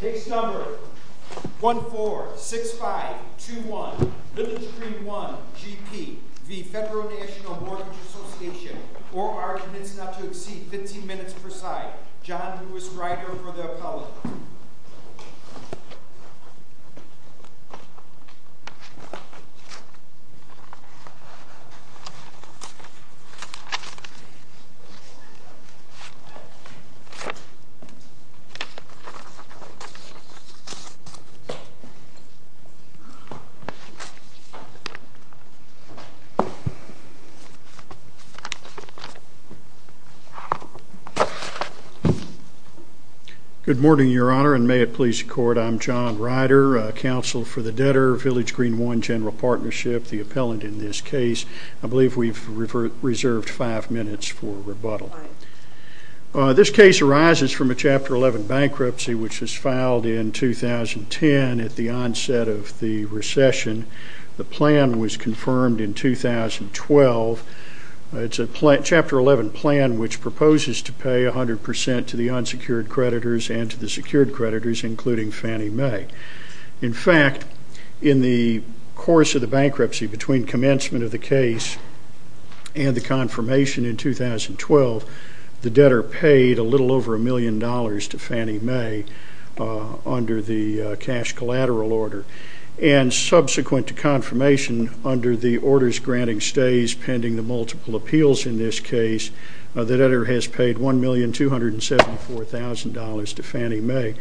Case number 146521 Village Green I GP v. Federal National Mortgage Association Or arguments not to exceed 15 minutes per side. John Lewis Ryder for the appellate. Good morning, Your Honor, and may it please the court, I'm John Ryder, counsel for the debtor, Village Green I GP, the appellant in this case. I believe we've reserved five minutes for rebuttal. This case arises from a Chapter 11 bankruptcy which was filed in 2010 at the onset of the recession. The plan was confirmed in 2012. It's a Chapter 11 plan which proposes to pay 100% to the unsecured creditors and to the secured creditors, including Fannie Mae. In fact, in the course of the bankruptcy between commencement of the case and the confirmation in 2012, the debtor paid a little over a million dollars to Fannie Mae under the cash collateral order. And subsequent to confirmation under the orders granting stays pending the multiple appeals in this case, the debtor has paid $1,274,000 to Fannie Mae.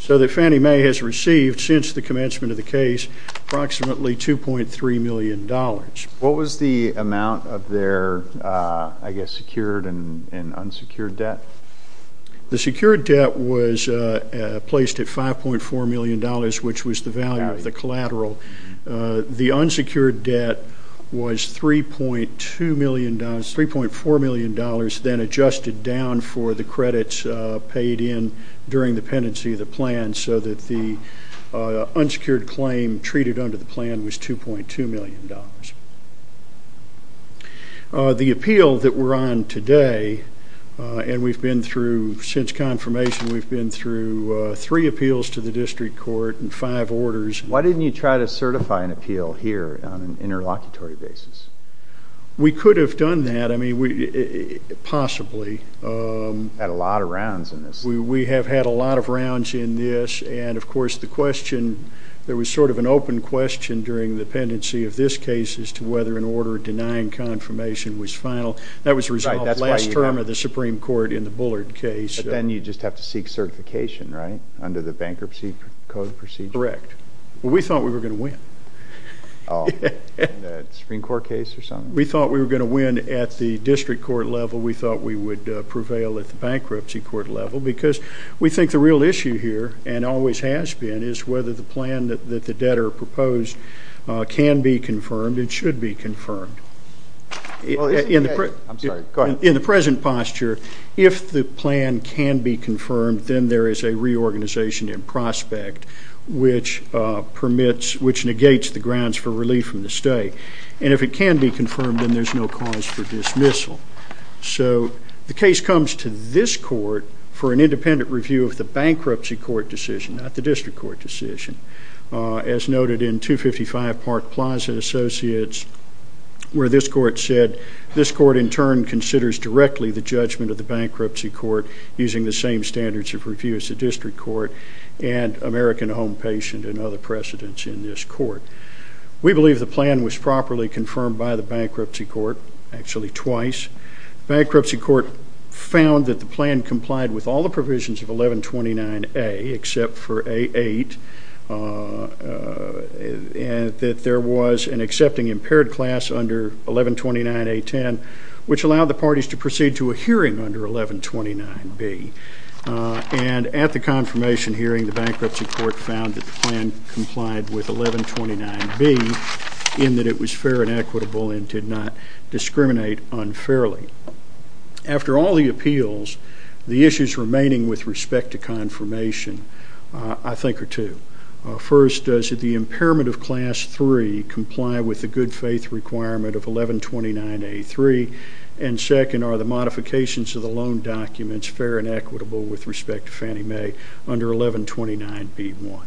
So that Fannie Mae has received since the commencement of the case approximately $2.3 million. What was the amount of their, I guess, secured and unsecured debt? The secured debt was placed at $5.4 million, which was the value of the collateral. The unsecured debt was $3.2 million, $3.4 million, then adjusted down for the credits paid in during the pendency of the plan so that the unsecured claim treated under the plan was $2.2 million. The appeal that we're on today, and we've been through since confirmation, we've been through three appeals to the district court and five orders. Why didn't you try to certify an appeal here on an interlocutory basis? We could have done that. I mean, possibly. Had a lot of rounds in this. We have had a lot of rounds in this, and of course the question, there was sort of an open question during the pendency of this case as to whether an order denying confirmation was final. That was resolved last term of the Supreme Court in the Bullard case. But then you'd just have to seek certification, right, under the bankruptcy code procedure? Correct. Well, we thought we were going to win. Oh, in the Supreme Court case or something? We thought we were going to win at the district court level. We thought we would prevail at the bankruptcy court level because we think the real issue here, and always has been, is whether the plan that the debtor proposed can be confirmed, it should be confirmed. I'm sorry. Go ahead. In the present posture, if the plan can be confirmed, then there is a reorganization in prospect which negates the grounds for relief from the stay. And if it can be confirmed, then there's no cause for dismissal. So the case comes to this court for an independent review of the bankruptcy court decision, not the district court decision. As noted in 255 Park Plaza Associates, where this court said, this court in turn considers directly the judgment of the bankruptcy court using the same standards of review as the district court We believe the plan was properly confirmed by the bankruptcy court, actually twice. Bankruptcy court found that the plan complied with all the provisions of 1129A except for A8, and that there was an accepting impaired class under 1129A10, which allowed the parties to proceed to a hearing under 1129B. And at the confirmation hearing, the bankruptcy court found that the plan complied with 1129B in that it was fair and equitable and did not discriminate unfairly. After all the appeals, the issues remaining with respect to confirmation, I think, are two. First, does the impairment of class 3 comply with the good faith requirement of 1129A3? And second, are the modifications of the loan documents fair and equitable with respect to Fannie Mae under 1129B1?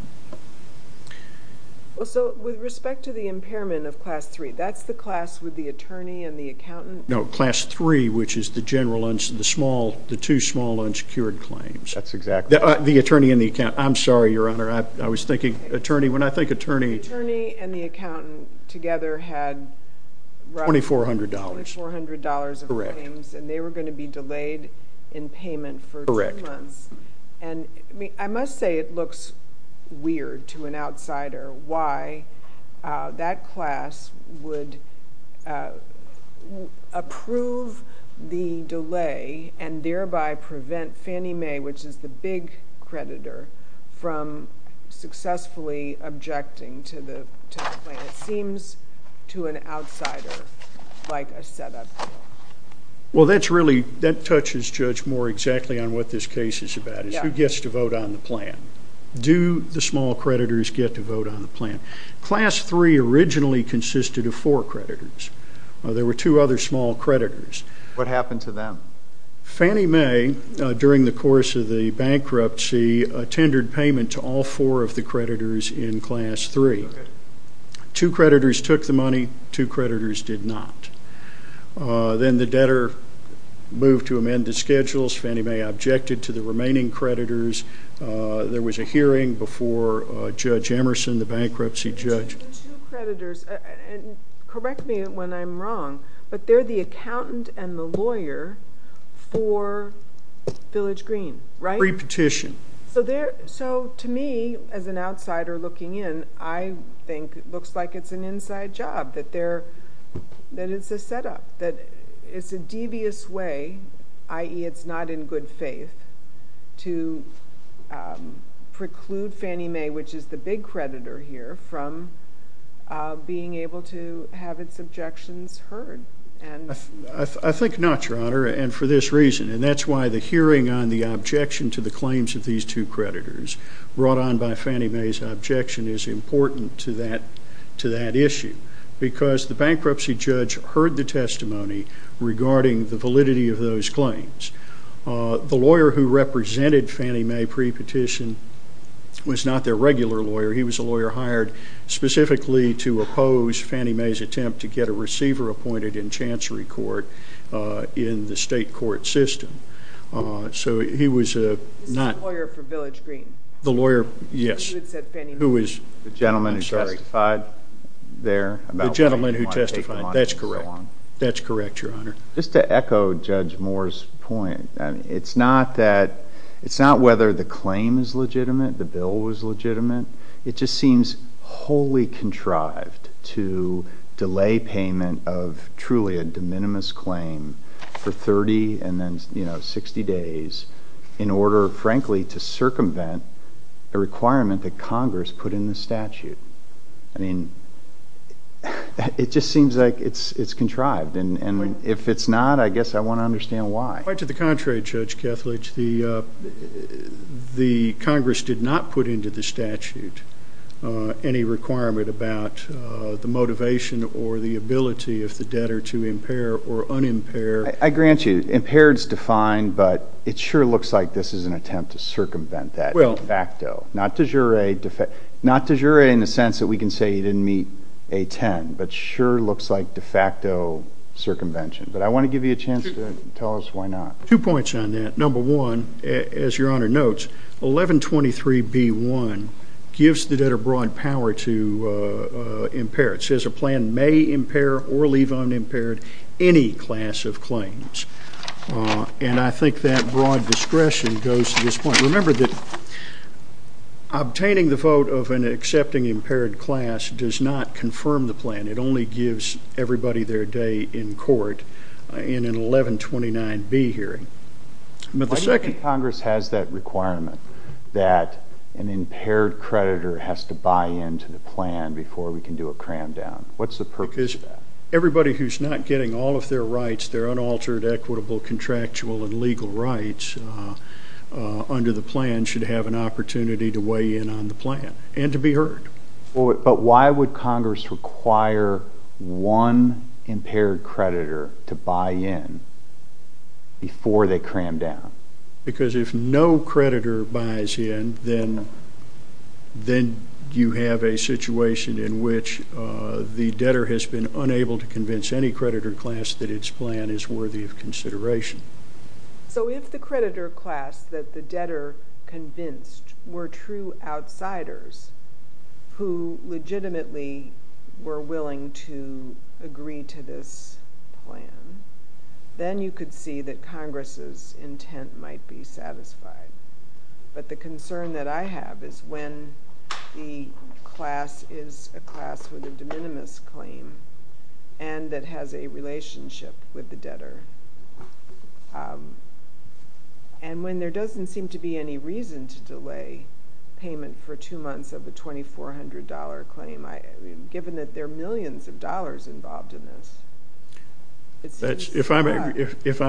So with respect to the impairment of class 3, that's the class with the attorney and the accountant? No, class 3, which is the two small unsecured claims. That's exactly right. The attorney and the accountant. I'm sorry, Your Honor. I was thinking attorney. When I think attorney... The attorney and the accountant together had roughly... $2,400. $2,400 of claims. Correct. And they were going to be delayed in payment for two months. Correct. I must say it looks weird to an outsider why that class would approve the delay and thereby prevent Fannie Mae, which is the big creditor, from successfully objecting to the plan. It seems to an outsider like a setup. Well, that touches, Judge, more exactly on what this case is about. It's who gets to vote on the plan. Do the small creditors get to vote on the plan? Class 3 originally consisted of four creditors. There were two other small creditors. What happened to them? Fannie Mae, during the course of the bankruptcy, tended payment to all four of the creditors in Class 3. Two creditors took the money. Two creditors did not. Then the debtor moved to amend the schedules. Fannie Mae objected to the remaining creditors. There was a hearing before Judge Emerson, the bankruptcy judge. Correct me when I'm wrong, but they're the accountant and the lawyer for Village Green, right? So to me, as an outsider looking in, I think it looks like it's an inside job, that it's a setup, that it's a devious way, i.e., it's not in good faith, to preclude Fannie Mae, which is the big creditor here, from being able to have its objections heard. I think not, Your Honor, and for this reason. And that's why the hearing on the objection to the claims of these two creditors, brought on by Fannie Mae's objection, is important to that issue, because the bankruptcy judge heard the testimony regarding the validity of those claims. The lawyer who represented Fannie Mae pre-petition was not their regular lawyer. He was a lawyer hired specifically to oppose Fannie Mae's attempt to get a receiver appointed in chancery court in the state court system. So he was not. He was the lawyer for Village Green. The lawyer, yes. He said Fannie Mae. The gentleman who testified there. The gentleman who testified, that's correct. That's correct, Your Honor. Just to echo Judge Moore's point, it's not whether the claim is legitimate, the bill was legitimate. It just seems wholly contrived to delay payment of truly a de minimis claim for 30 and then 60 days in order, frankly, to circumvent a requirement that Congress put in the statute. I mean, it just seems like it's contrived. And if it's not, I guess I want to understand why. Quite to the contrary, Judge Kethledge, the Congress did not put into the statute any requirement about the motivation or the ability of the debtor to impair or unimpair. I grant you, impaired is defined, but it sure looks like this is an attempt to circumvent that de facto. Not de jure in the sense that we can say he didn't meet A-10, but sure looks like de facto circumvention. But I want to give you a chance to tell us why not. Two points on that. Number one, as Your Honor notes, 1123B1 gives the debtor broad power to impair. It says a plan may impair or leave unimpaired any class of claims. And I think that broad discretion goes to this point. Remember that obtaining the vote of an accepting impaired class does not confirm the plan. It only gives everybody their day in court in an 1129B hearing. Why do you think Congress has that requirement that an impaired creditor has to buy into the plan before we can do a cram down? What's the purpose of that? Because everybody who's not getting all of their rights, their unaltered, equitable, contractual, and legal rights under the plan should have an opportunity to weigh in on the plan and to be heard. But why would Congress require one impaired creditor to buy in before they cram down? Because if no creditor buys in, then you have a situation in which the debtor has been unable to convince any creditor class that its plan is worthy of consideration. So if the creditor class that the debtor convinced were true outsiders who legitimately were willing to agree to this plan, then you could see that Congress's intent might be satisfied. But the concern that I have is when the class is a class with a de minimis claim and that has a relationship with the debtor, and when there doesn't seem to be any reason to delay payment for two months of a $2,400 claim, given that there are millions of dollars involved in this. If I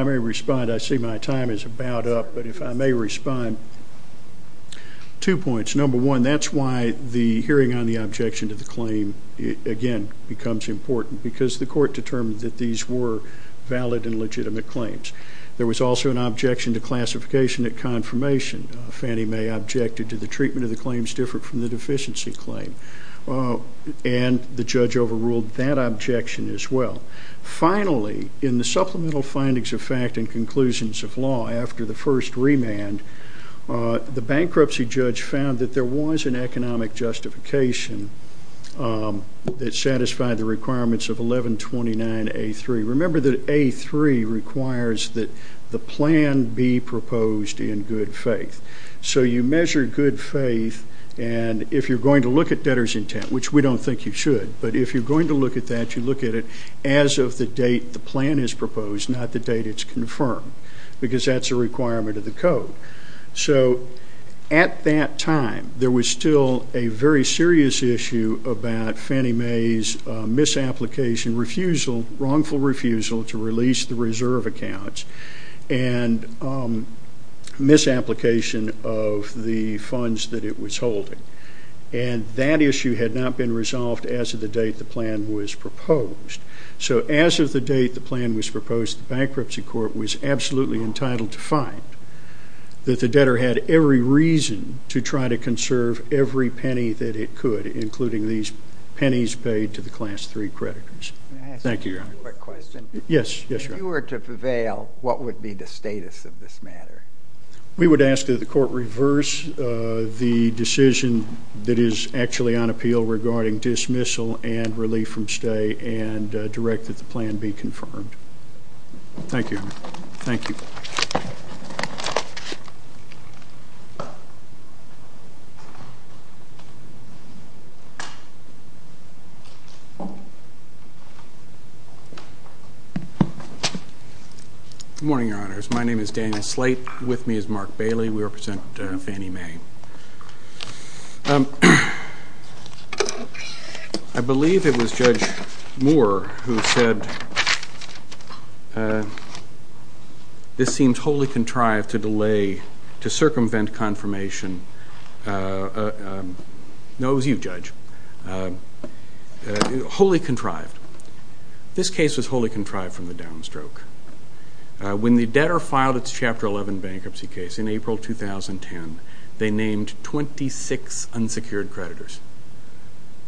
may respond, I see my time is about up, but if I may respond, two points. Number one, that's why the hearing on the objection to the claim, again, becomes important, because the court determined that these were valid and legitimate claims. There was also an objection to classification at confirmation. Fannie Mae objected to the treatment of the claims different from the deficiency claim, and the judge overruled that objection as well. Finally, in the supplemental findings of fact and conclusions of law after the first remand, the bankruptcy judge found that there was an economic justification that satisfied the requirements of 1129A3. Remember that A3 requires that the plan be proposed in good faith. So you measure good faith, and if you're going to look at debtor's intent, which we don't think you should, but if you're going to look at that, you look at it as of the date the plan is proposed, not the date it's confirmed, because that's a requirement of the code. So at that time, there was still a very serious issue about Fannie Mae's misapplication refusal, wrongful refusal to release the reserve accounts, and misapplication of the funds that it was holding. And that issue had not been resolved as of the date the plan was proposed. So as of the date the plan was proposed, the bankruptcy court was absolutely entitled to find that the debtor had every reason to try to conserve every penny that it could, including these pennies paid to the Class III creditors. Thank you, Your Honor. Can I ask you a quick question? Yes, yes, Your Honor. If you were to prevail, what would be the status of this matter? We would ask that the court reverse the decision that is actually on appeal regarding dismissal and relief from stay and direct that the plan be confirmed. Thank you, Your Honor. Thank you. Good morning, Your Honors. My name is Daniel Slate. With me is Mark Bailey. We represent Fannie Mae. I believe it was Judge Moore who said this seems wholly contrived to delay, to circumvent confirmation. No, it was you, Judge. Wholly contrived. This case was wholly contrived from the down stroke. When the debtor filed its Chapter 11 bankruptcy case in April 2010, they named 26 unsecured creditors.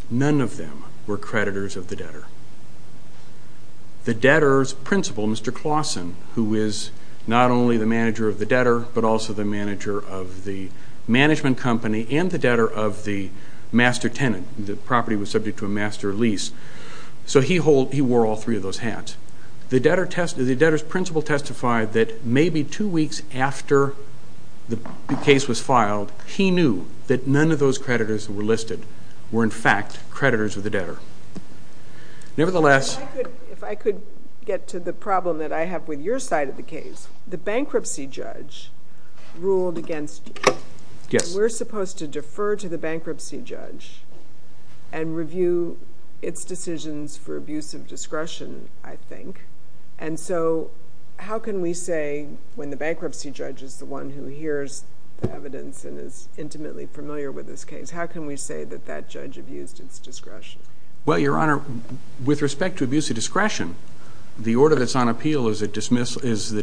None of them were creditors of the debtor. The debtor's principal, Mr. Clausen, who is not only the manager of the debtor but also the manager of the management company and the debtor of the master tenant, the property was subject to a master lease, so he wore all three of those hats. The debtor's principal testified that maybe two weeks after the case was filed, he knew that none of those creditors that were listed were, in fact, creditors of the debtor. Nevertheless— If I could get to the problem that I have with your side of the case, the bankruptcy judge ruled against you. Yes. We're supposed to defer to the bankruptcy judge and review its decisions for abuse of discretion, I think. And so how can we say, when the bankruptcy judge is the one who hears the evidence and is intimately familiar with this case, how can we say that that judge abused its discretion? Well, Your Honor, with respect to abuse of discretion, the order that's on appeal is the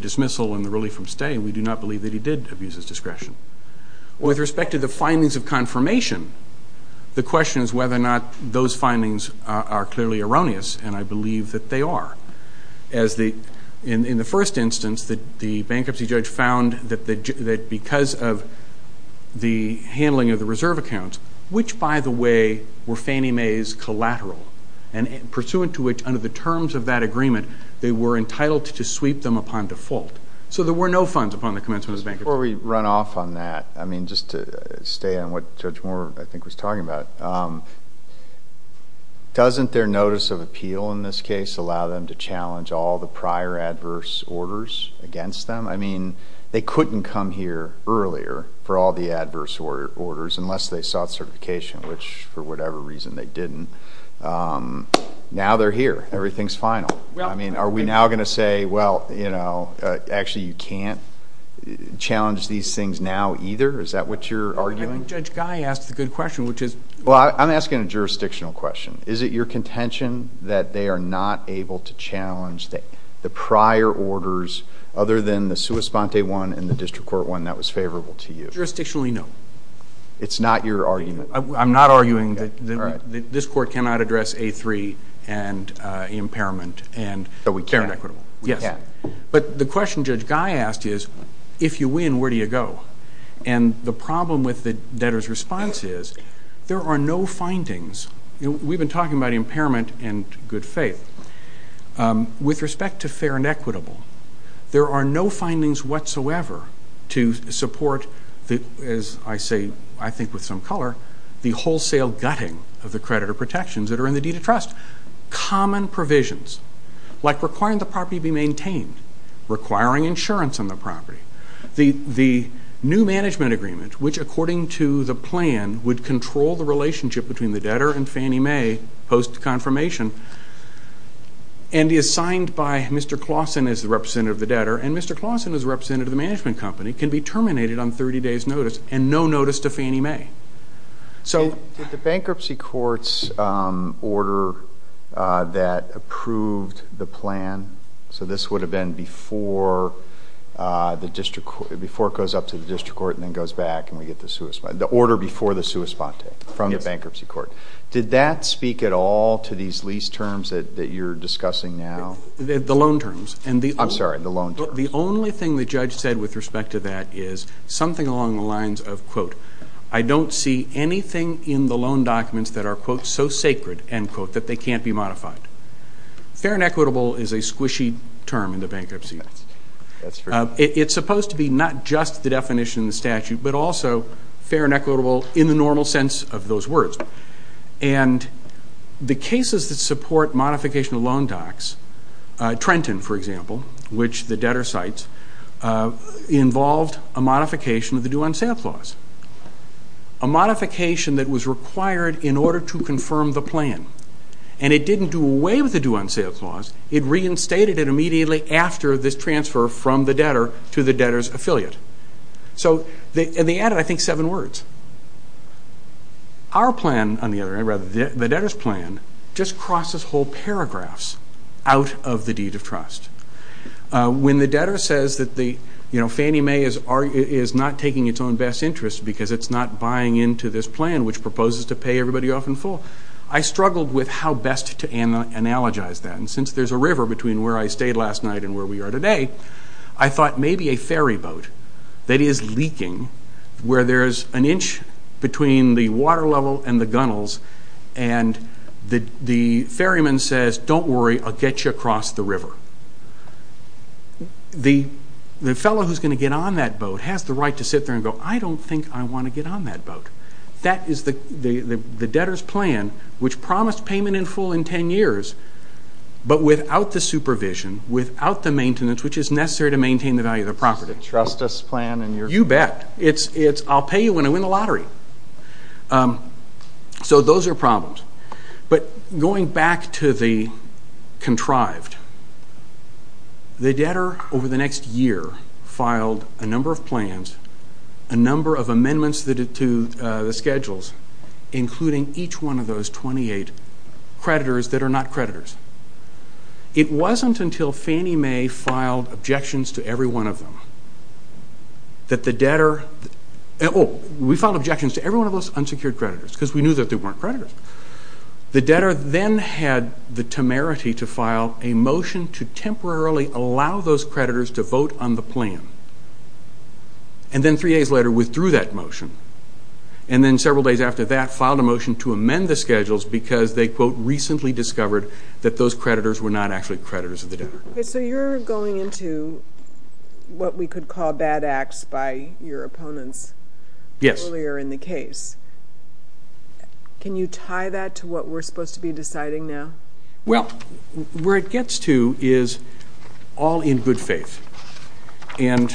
dismissal and the relief from stay, and we do not believe that he did abuse his discretion. With respect to the findings of confirmation, the question is whether or not those findings are clearly erroneous, and I believe that they are. In the first instance, the bankruptcy judge found that because of the handling of the reserve accounts, which, by the way, were Fannie Mae's collateral, and pursuant to which, under the terms of that agreement, they were entitled to sweep them upon default. So there were no funds upon the commencement of his bankruptcy. Before we run off on that, I mean, just to stay on what Judge Moore, I think, was talking about, doesn't their notice of appeal in this case allow them to challenge all the prior adverse orders against them? I mean, they couldn't come here earlier for all the adverse orders unless they sought certification, which, for whatever reason, they didn't. Now they're here. Everything's final. I mean, are we now going to say, well, you know, actually you can't challenge these things now either? Is that what you're arguing? Judge Guy asked the good question, which is? Well, I'm asking a jurisdictional question. Is it your contention that they are not able to challenge the prior orders other than the sua sponte one and the district court one that was favorable to you? Jurisdictionally, no. It's not your argument? I'm not arguing that this court cannot address A3 and impairment and fair and equitable. Yes. But the question Judge Guy asked is, if you win, where do you go? And the problem with the debtor's response is there are no findings. We've been talking about impairment and good faith. With respect to fair and equitable, there are no findings whatsoever to support, as I say, I think with some color, the wholesale gutting of the creditor protections that are in the deed of trust. Common provisions, like requiring the property be maintained, requiring insurance on the property, the new management agreement, which according to the plan would control the relationship between the debtor and Fannie Mae post-confirmation, and is signed by Mr. Clausen as the representative of the debtor, and Mr. Clausen as the representative of the management company, can be terminated on 30 days' notice and no notice to Fannie Mae. Did the bankruptcy court's order that approved the plan, so this would have been before it goes up to the district court and then goes back, the order before the sua sponte from the bankruptcy court, did that speak at all to these lease terms that you're discussing now? The loan terms. I'm sorry, the loan terms. The only thing the judge said with respect to that is something along the lines of, I don't see anything in the loan documents that are, quote, so sacred, end quote, that they can't be modified. Fair and equitable is a squishy term in the bankruptcy. It's supposed to be not just the definition in the statute, but also fair and equitable in the normal sense of those words. And the cases that support modification of loan docs, Trenton, for example, which the debtor cites, involved a modification of the due-on-sale clause, a modification that was required in order to confirm the plan. And it didn't do away with the due-on-sale clause. It reinstated it immediately after this transfer from the debtor to the debtor's affiliate. And they added, I think, seven words. Our plan on the other hand, or rather the debtor's plan, just crosses whole paragraphs out of the deed of trust. When the debtor says that Fannie Mae is not taking its own best interest because it's not buying into this plan, which proposes to pay everybody off in full, I struggled with how best to analogize that. And since there's a river between where I stayed last night and where we are today, I thought maybe a ferry boat that is leaking, where there's an inch between the water level and the gunnels, and the ferryman says, don't worry, I'll get you across the river. The fellow who's going to get on that boat has the right to sit there and go, I don't think I want to get on that boat. That is the debtor's plan, which promised payment in full in ten years, but without the supervision, without the maintenance, which is necessary to maintain the value of the property. It's the trust us plan. You bet. It's I'll pay you when I win the lottery. So those are problems. But going back to the contrived, the debtor over the next year filed a number of plans, a number of amendments to the schedules, including each one of those 28 creditors that are not creditors. It wasn't until Fannie Mae filed objections to every one of them that the debtor, we filed objections to every one of those unsecured creditors, because we knew that they weren't creditors. The debtor then had the temerity to file a motion to temporarily allow those creditors to vote on the plan. And then three days later withdrew that motion. And then several days after that, filed a motion to amend the schedules because they, quote, recently discovered that those creditors were not actually creditors of the debtor. So you're going into what we could call bad acts by your opponents earlier in the case. Yes. Can you tie that to what we're supposed to be deciding now? Well, where it gets to is all in good faith. And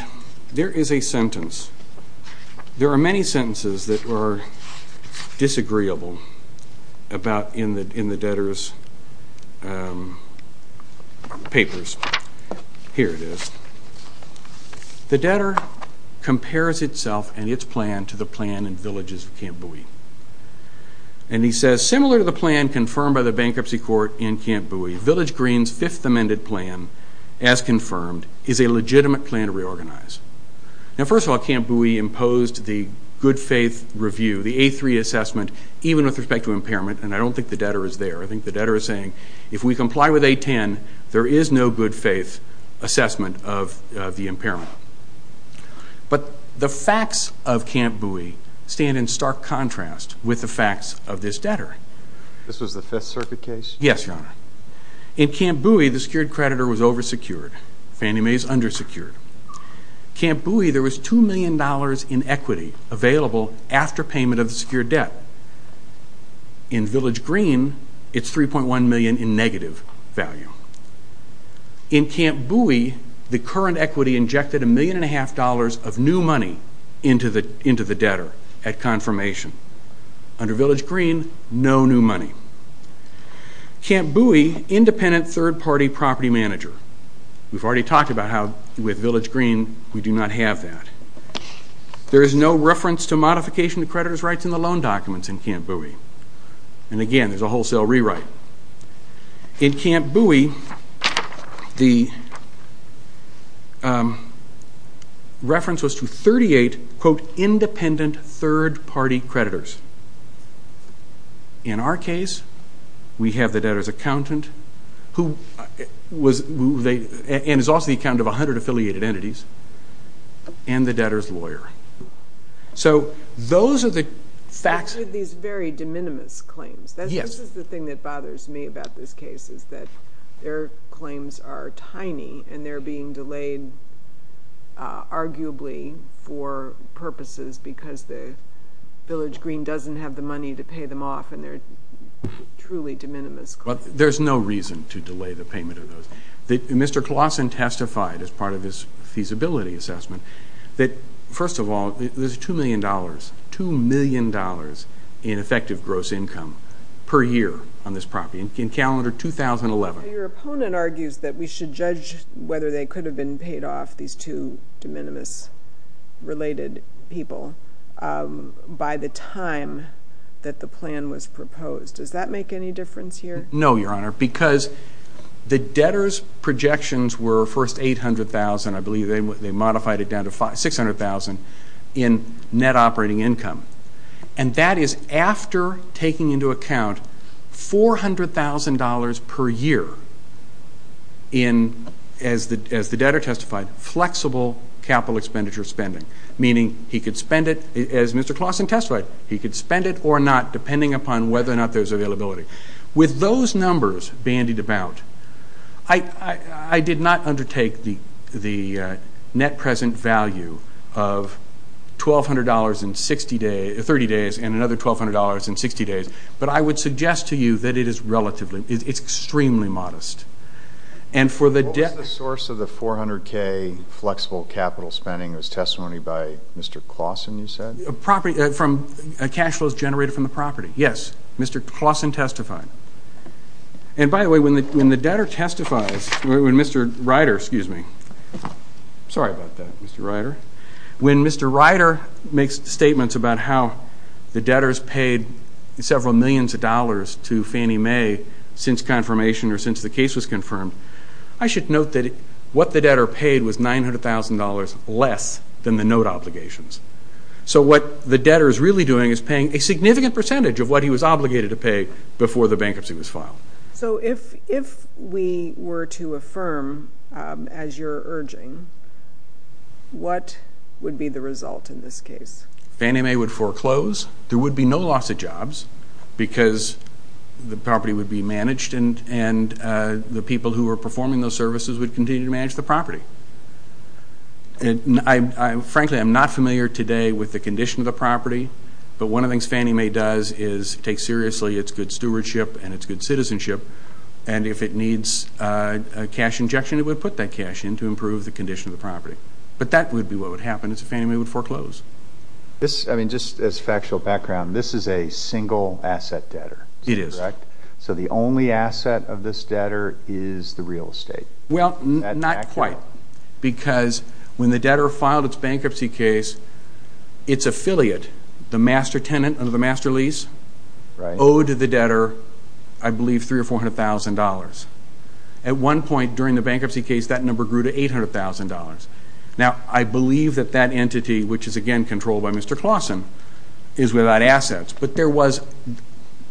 there is a sentence. There are many sentences that are disagreeable in the debtor's papers. Here it is. The debtor compares itself and its plan to the plan in Villages of Camp Bowie. And he says, Similar to the plan confirmed by the bankruptcy court in Camp Bowie, Village Green's fifth amended plan, as confirmed, is a legitimate plan to reorganize. Now, first of all, Camp Bowie imposed the good faith review, the A3 assessment, even with respect to impairment. And I don't think the debtor is there. I think the debtor is saying, If we comply with A10, there is no good faith assessment of the impairment. But the facts of Camp Bowie stand in stark contrast with the facts of this debtor. This was the Fifth Circuit case? Yes, Your Honor. In Camp Bowie, the secured creditor was oversecured. Fannie Mae is undersecured. Camp Bowie, there was $2 million in equity available after payment of the secured debt. In Village Green, it's $3.1 million in negative value. In Camp Bowie, the current equity injected $1.5 million of new money into the debtor at confirmation. Under Village Green, no new money. Camp Bowie, independent third-party property manager. We've already talked about how, with Village Green, we do not have that. There is no reference to modification to creditor's rights in the loan documents in Camp Bowie. And again, there's a wholesale rewrite. In Camp Bowie, the reference was to 38, quote, independent third-party creditors. In our case, we have the debtor's accountant, and is also the accountant of 100 affiliated entities, and the debtor's lawyer. So those are the facts. These are very de minimis claims. This is the thing that bothers me about this case, is that their claims are tiny, and they're being delayed arguably for purposes because Village Green doesn't have the money to pay them off, and they're truly de minimis claims. There's no reason to delay the payment of those. Mr. Claussen testified as part of his feasibility assessment that, first of all, there's $2 million, $2 million in effective gross income per year on this property in calendar 2011. Your opponent argues that we should judge whether they could have been paid off, these two de minimis-related people, by the time that the plan was proposed. Does that make any difference here? No, Your Honor, because the debtor's projections were first $800,000. I believe they modified it down to $600,000 in net operating income. And that is after taking into account $400,000 per year in, as the debtor testified, flexible capital expenditure spending, meaning he could spend it, as Mr. Claussen testified, he could spend it or not depending upon whether or not there's availability. With those numbers bandied about, I did not undertake the net present value of $1,200 in 30 days and another $1,200 in 60 days, but I would suggest to you that it is relatively, it's extremely modest. What was the source of the $400,000 flexible capital spending as testimony by Mr. Claussen, you said? From cash flows generated from the property. Yes, Mr. Claussen testified. And by the way, when the debtor testifies, when Mr. Ryder, excuse me, sorry about that, Mr. Ryder, when Mr. Ryder makes statements about how the debtors paid several millions of dollars to Fannie Mae since confirmation or since the case was confirmed, I should note that what the debtor paid was $900,000 less than the note obligations. So what the debtor is really doing is paying a significant percentage of what he was obligated to pay before the bankruptcy was filed. So if we were to affirm, as you're urging, what would be the result in this case? Fannie Mae would foreclose. There would be no loss of jobs because the property would be managed and the people who were performing those services would continue to manage the property. Frankly, I'm not familiar today with the condition of the property, but one of the things Fannie Mae does is take seriously its good stewardship and its good citizenship, and if it needs a cash injection, it would put that cash in to improve the condition of the property. But that would be what would happen if Fannie Mae would foreclose. I mean, just as a factual background, this is a single asset debtor. It is. So the only asset of this debtor is the real estate. Well, not quite, because when the debtor filed its bankruptcy case, its affiliate, the master tenant under the master lease, owed the debtor, I believe, $300,000 or $400,000. At one point during the bankruptcy case, that number grew to $800,000. Now, I believe that that entity, which is, again, controlled by Mr. Clausen, is without assets, but there was,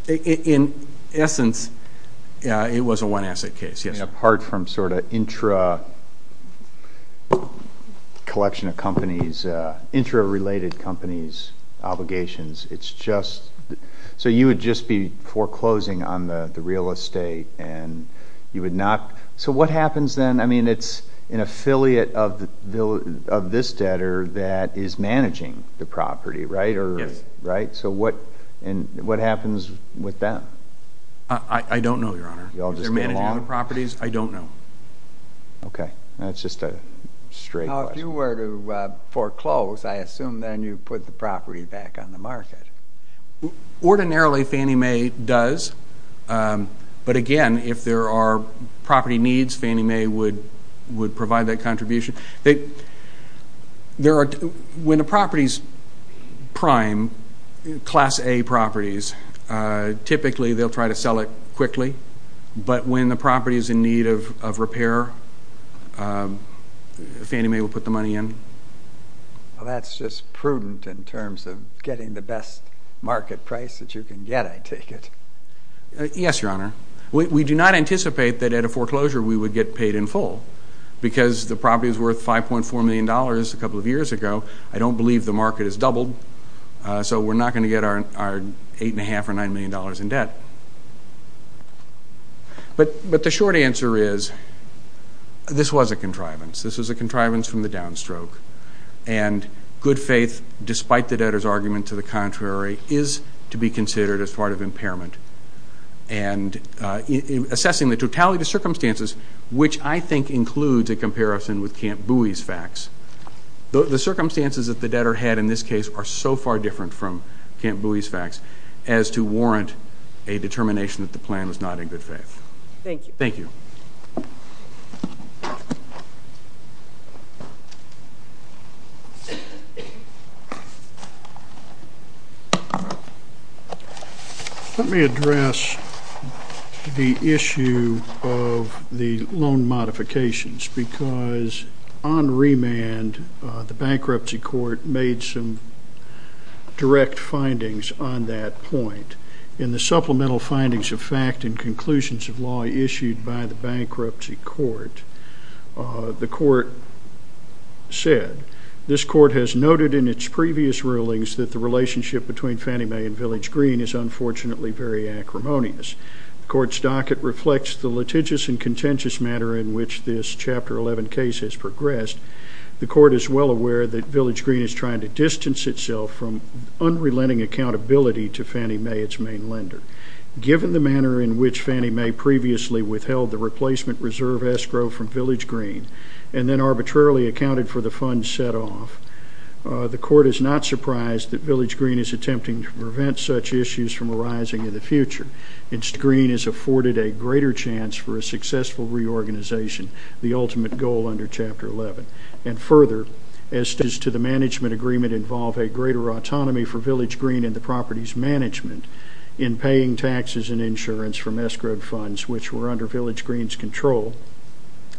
in essence, it was a one-asset case. And apart from sort of intra-collection of companies, intra-related companies' obligations, its just, so you would just be foreclosing on the real estate and you would not, so what happens then? I mean, its an affiliate of this debtor that is managing the property, right? Yes. So what happens with them? I don't know, Your Honor. Is there managing other properties? I don't know. Okay. That's just a straight question. Now, if you were to foreclose, I assume then you would put the property back on the market. Ordinarily, Fannie Mae does. But, again, if there are property needs, Fannie Mae would provide that contribution. When a property is prime, Class A properties, typically they'll try to sell it quickly. But when the property is in need of repair, Fannie Mae will put the money in. Well, that's just prudent in terms of getting the best market price that you can get, I take it. Yes, Your Honor. We do not anticipate that at a foreclosure we would get paid in full because the property was worth $5.4 million a couple of years ago. I don't believe the market has doubled, so we're not going to get our $8.5 or $9 million in debt. But the short answer is this was a contrivance. This was a contrivance from the downstroke. And good faith, despite the debtor's argument to the contrary, is to be considered as part of impairment. And assessing the totality of the circumstances, which I think includes a comparison with Camp Bowie's facts, the circumstances that the debtor had in this case are so far different from Camp Bowie's facts as to warrant a determination that the plan was not in good faith. Thank you. Thank you. Let me address the issue of the loan modifications because on remand the bankruptcy court made some direct findings on that point. In the supplemental findings of fact and conclusions of law issued by the bankruptcy court, the court said this court has noted in its previous rulings that the relationship between Fannie Mae and Village Green is unfortunately very acrimonious. The court's docket reflects the litigious and contentious manner in which this Chapter 11 case has progressed. The court is well aware that Village Green is trying to distance itself from unrelenting accountability to Fannie Mae, its main lender. Given the manner in which Fannie Mae previously withheld the replacement reserve escrow from Village Green and then arbitrarily accounted for the funds set off, the court is not surprised that Village Green is attempting to prevent such issues from arising in the future. Village Green is afforded a greater chance for a successful reorganization, the ultimate goal under Chapter 11. And further, as to the management agreement involve a greater autonomy for Village Green and the property's management in paying taxes and insurance from escrow funds, which were under Village Green's control,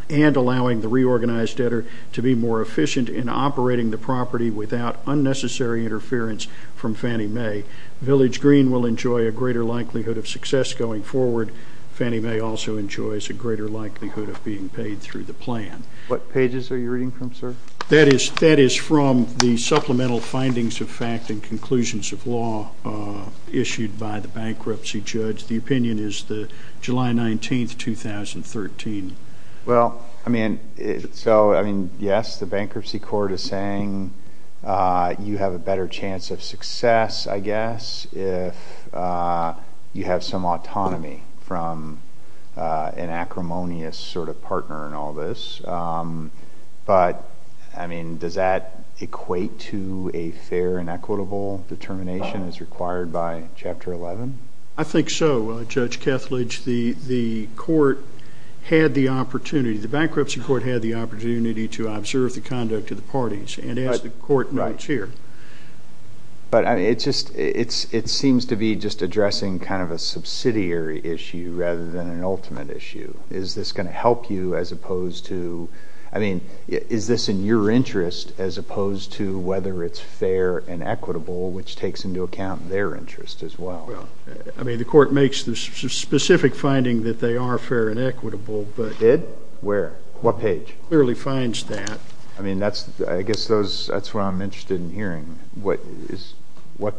and allowing the reorganized debtor to be more efficient in operating the property without unnecessary interference from Fannie Mae, Village Green will enjoy a greater likelihood of success going forward. Fannie Mae also enjoys a greater likelihood of being paid through the plan. What pages are you reading from, sir? That is from the supplemental findings of fact and conclusions of law issued by the bankruptcy judge. The opinion is July 19, 2013. Well, I mean, so, I mean, yes, the bankruptcy court is saying you have a better chance of success, I guess, if you have some autonomy from an acrimonious sort of partner in all this. But, I mean, does that equate to a fair and equitable determination as required by Chapter 11? I think so, Judge Kethledge. The court had the opportunity, the bankruptcy court had the opportunity to observe the conduct of the parties and as the court notes here. But, I mean, it seems to be just addressing kind of a subsidiary issue rather than an ultimate issue. Is this going to help you as opposed to, I mean, is this in your interest as opposed to whether it's fair and equitable, which takes into account their interest as well? Well, I mean, the court makes the specific finding that they are fair and equitable. Did? Where? What page? Clearly finds that. I mean, I guess that's what I'm interested in hearing. What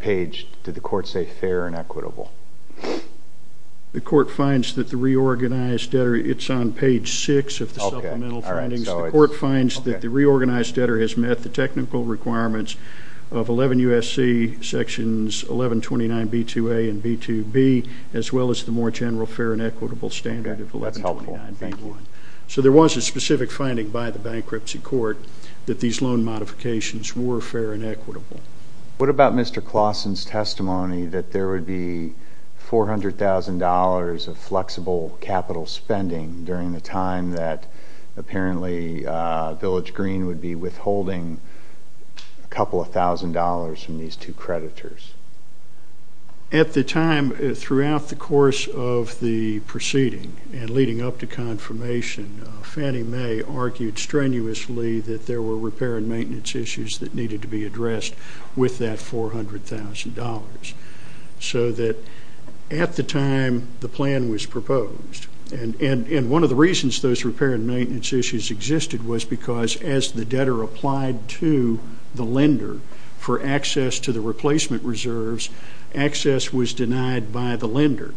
page did the court say fair and equitable? The court finds that the reorganized debtor, it's on page 6 of the supplemental findings. The court finds that the reorganized debtor has met the technical requirements of 11 U.S.C. sections 1129B2A and B2B as well as the more general fair and equitable standard of 1129B1. That's helpful. Thank you. So there was a specific finding by the bankruptcy court that these loan modifications were fair and equitable. What about Mr. Claussen's testimony that there would be $400,000 of flexible capital spending during the time that apparently Village Green would be withholding a couple of thousand dollars from these two creditors? At the time, throughout the course of the proceeding and leading up to confirmation, Fannie Mae argued strenuously that there were repair and maintenance issues that needed to be addressed with that $400,000 so that at the time the plan was proposed. And one of the reasons those repair and maintenance issues existed was because, as the debtor applied to the lender for access to the replacement reserves, access was denied by the lender.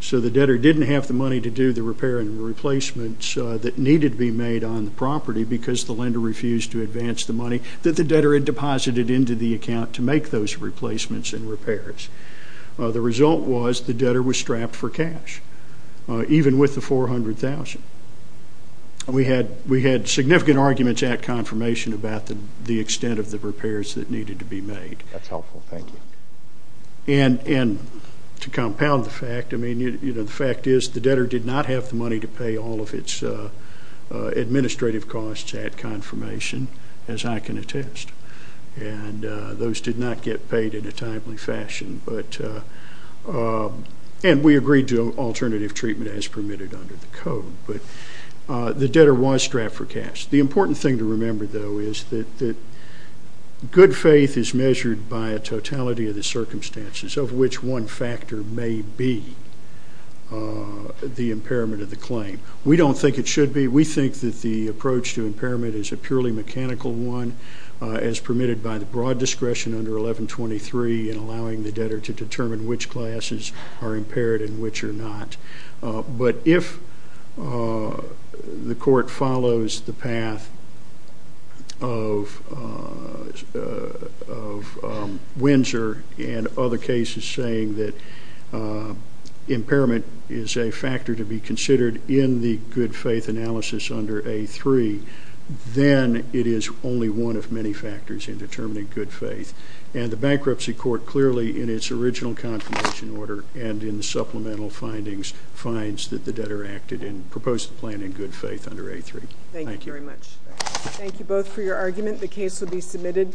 So the debtor didn't have the money to do the repair and replacements that needed to be made on the property because the lender refused to advance the money that the debtor had deposited into the account to make those replacements and repairs. The result was the debtor was strapped for cash, even with the $400,000. We had significant arguments at confirmation about the extent of the repairs that needed to be made. That's helpful. Thank you. And to compound the fact, the fact is the debtor did not have the money to pay all of its administrative costs at confirmation, as I can attest. And those did not get paid in a timely fashion. And we agreed to alternative treatment as permitted under the code. But the debtor was strapped for cash. The important thing to remember, though, is that good faith is measured by a totality of the circumstances, of which one factor may be the impairment of the claim. We don't think it should be. We think that the approach to impairment is a purely mechanical one, as permitted by the broad discretion under 1123 in allowing the debtor to determine which classes are impaired and which are not. But if the court follows the path of Windsor and other cases saying that impairment is a factor to be considered in the good faith analysis under A3, then it is only one of many factors in determining good faith. And the bankruptcy court clearly, in its original confirmation order and in the supplemental findings, finds that the debtor acted and proposed the plan in good faith under A3. Thank you. Thank you very much. Thank you both for your argument. The case will be submitted.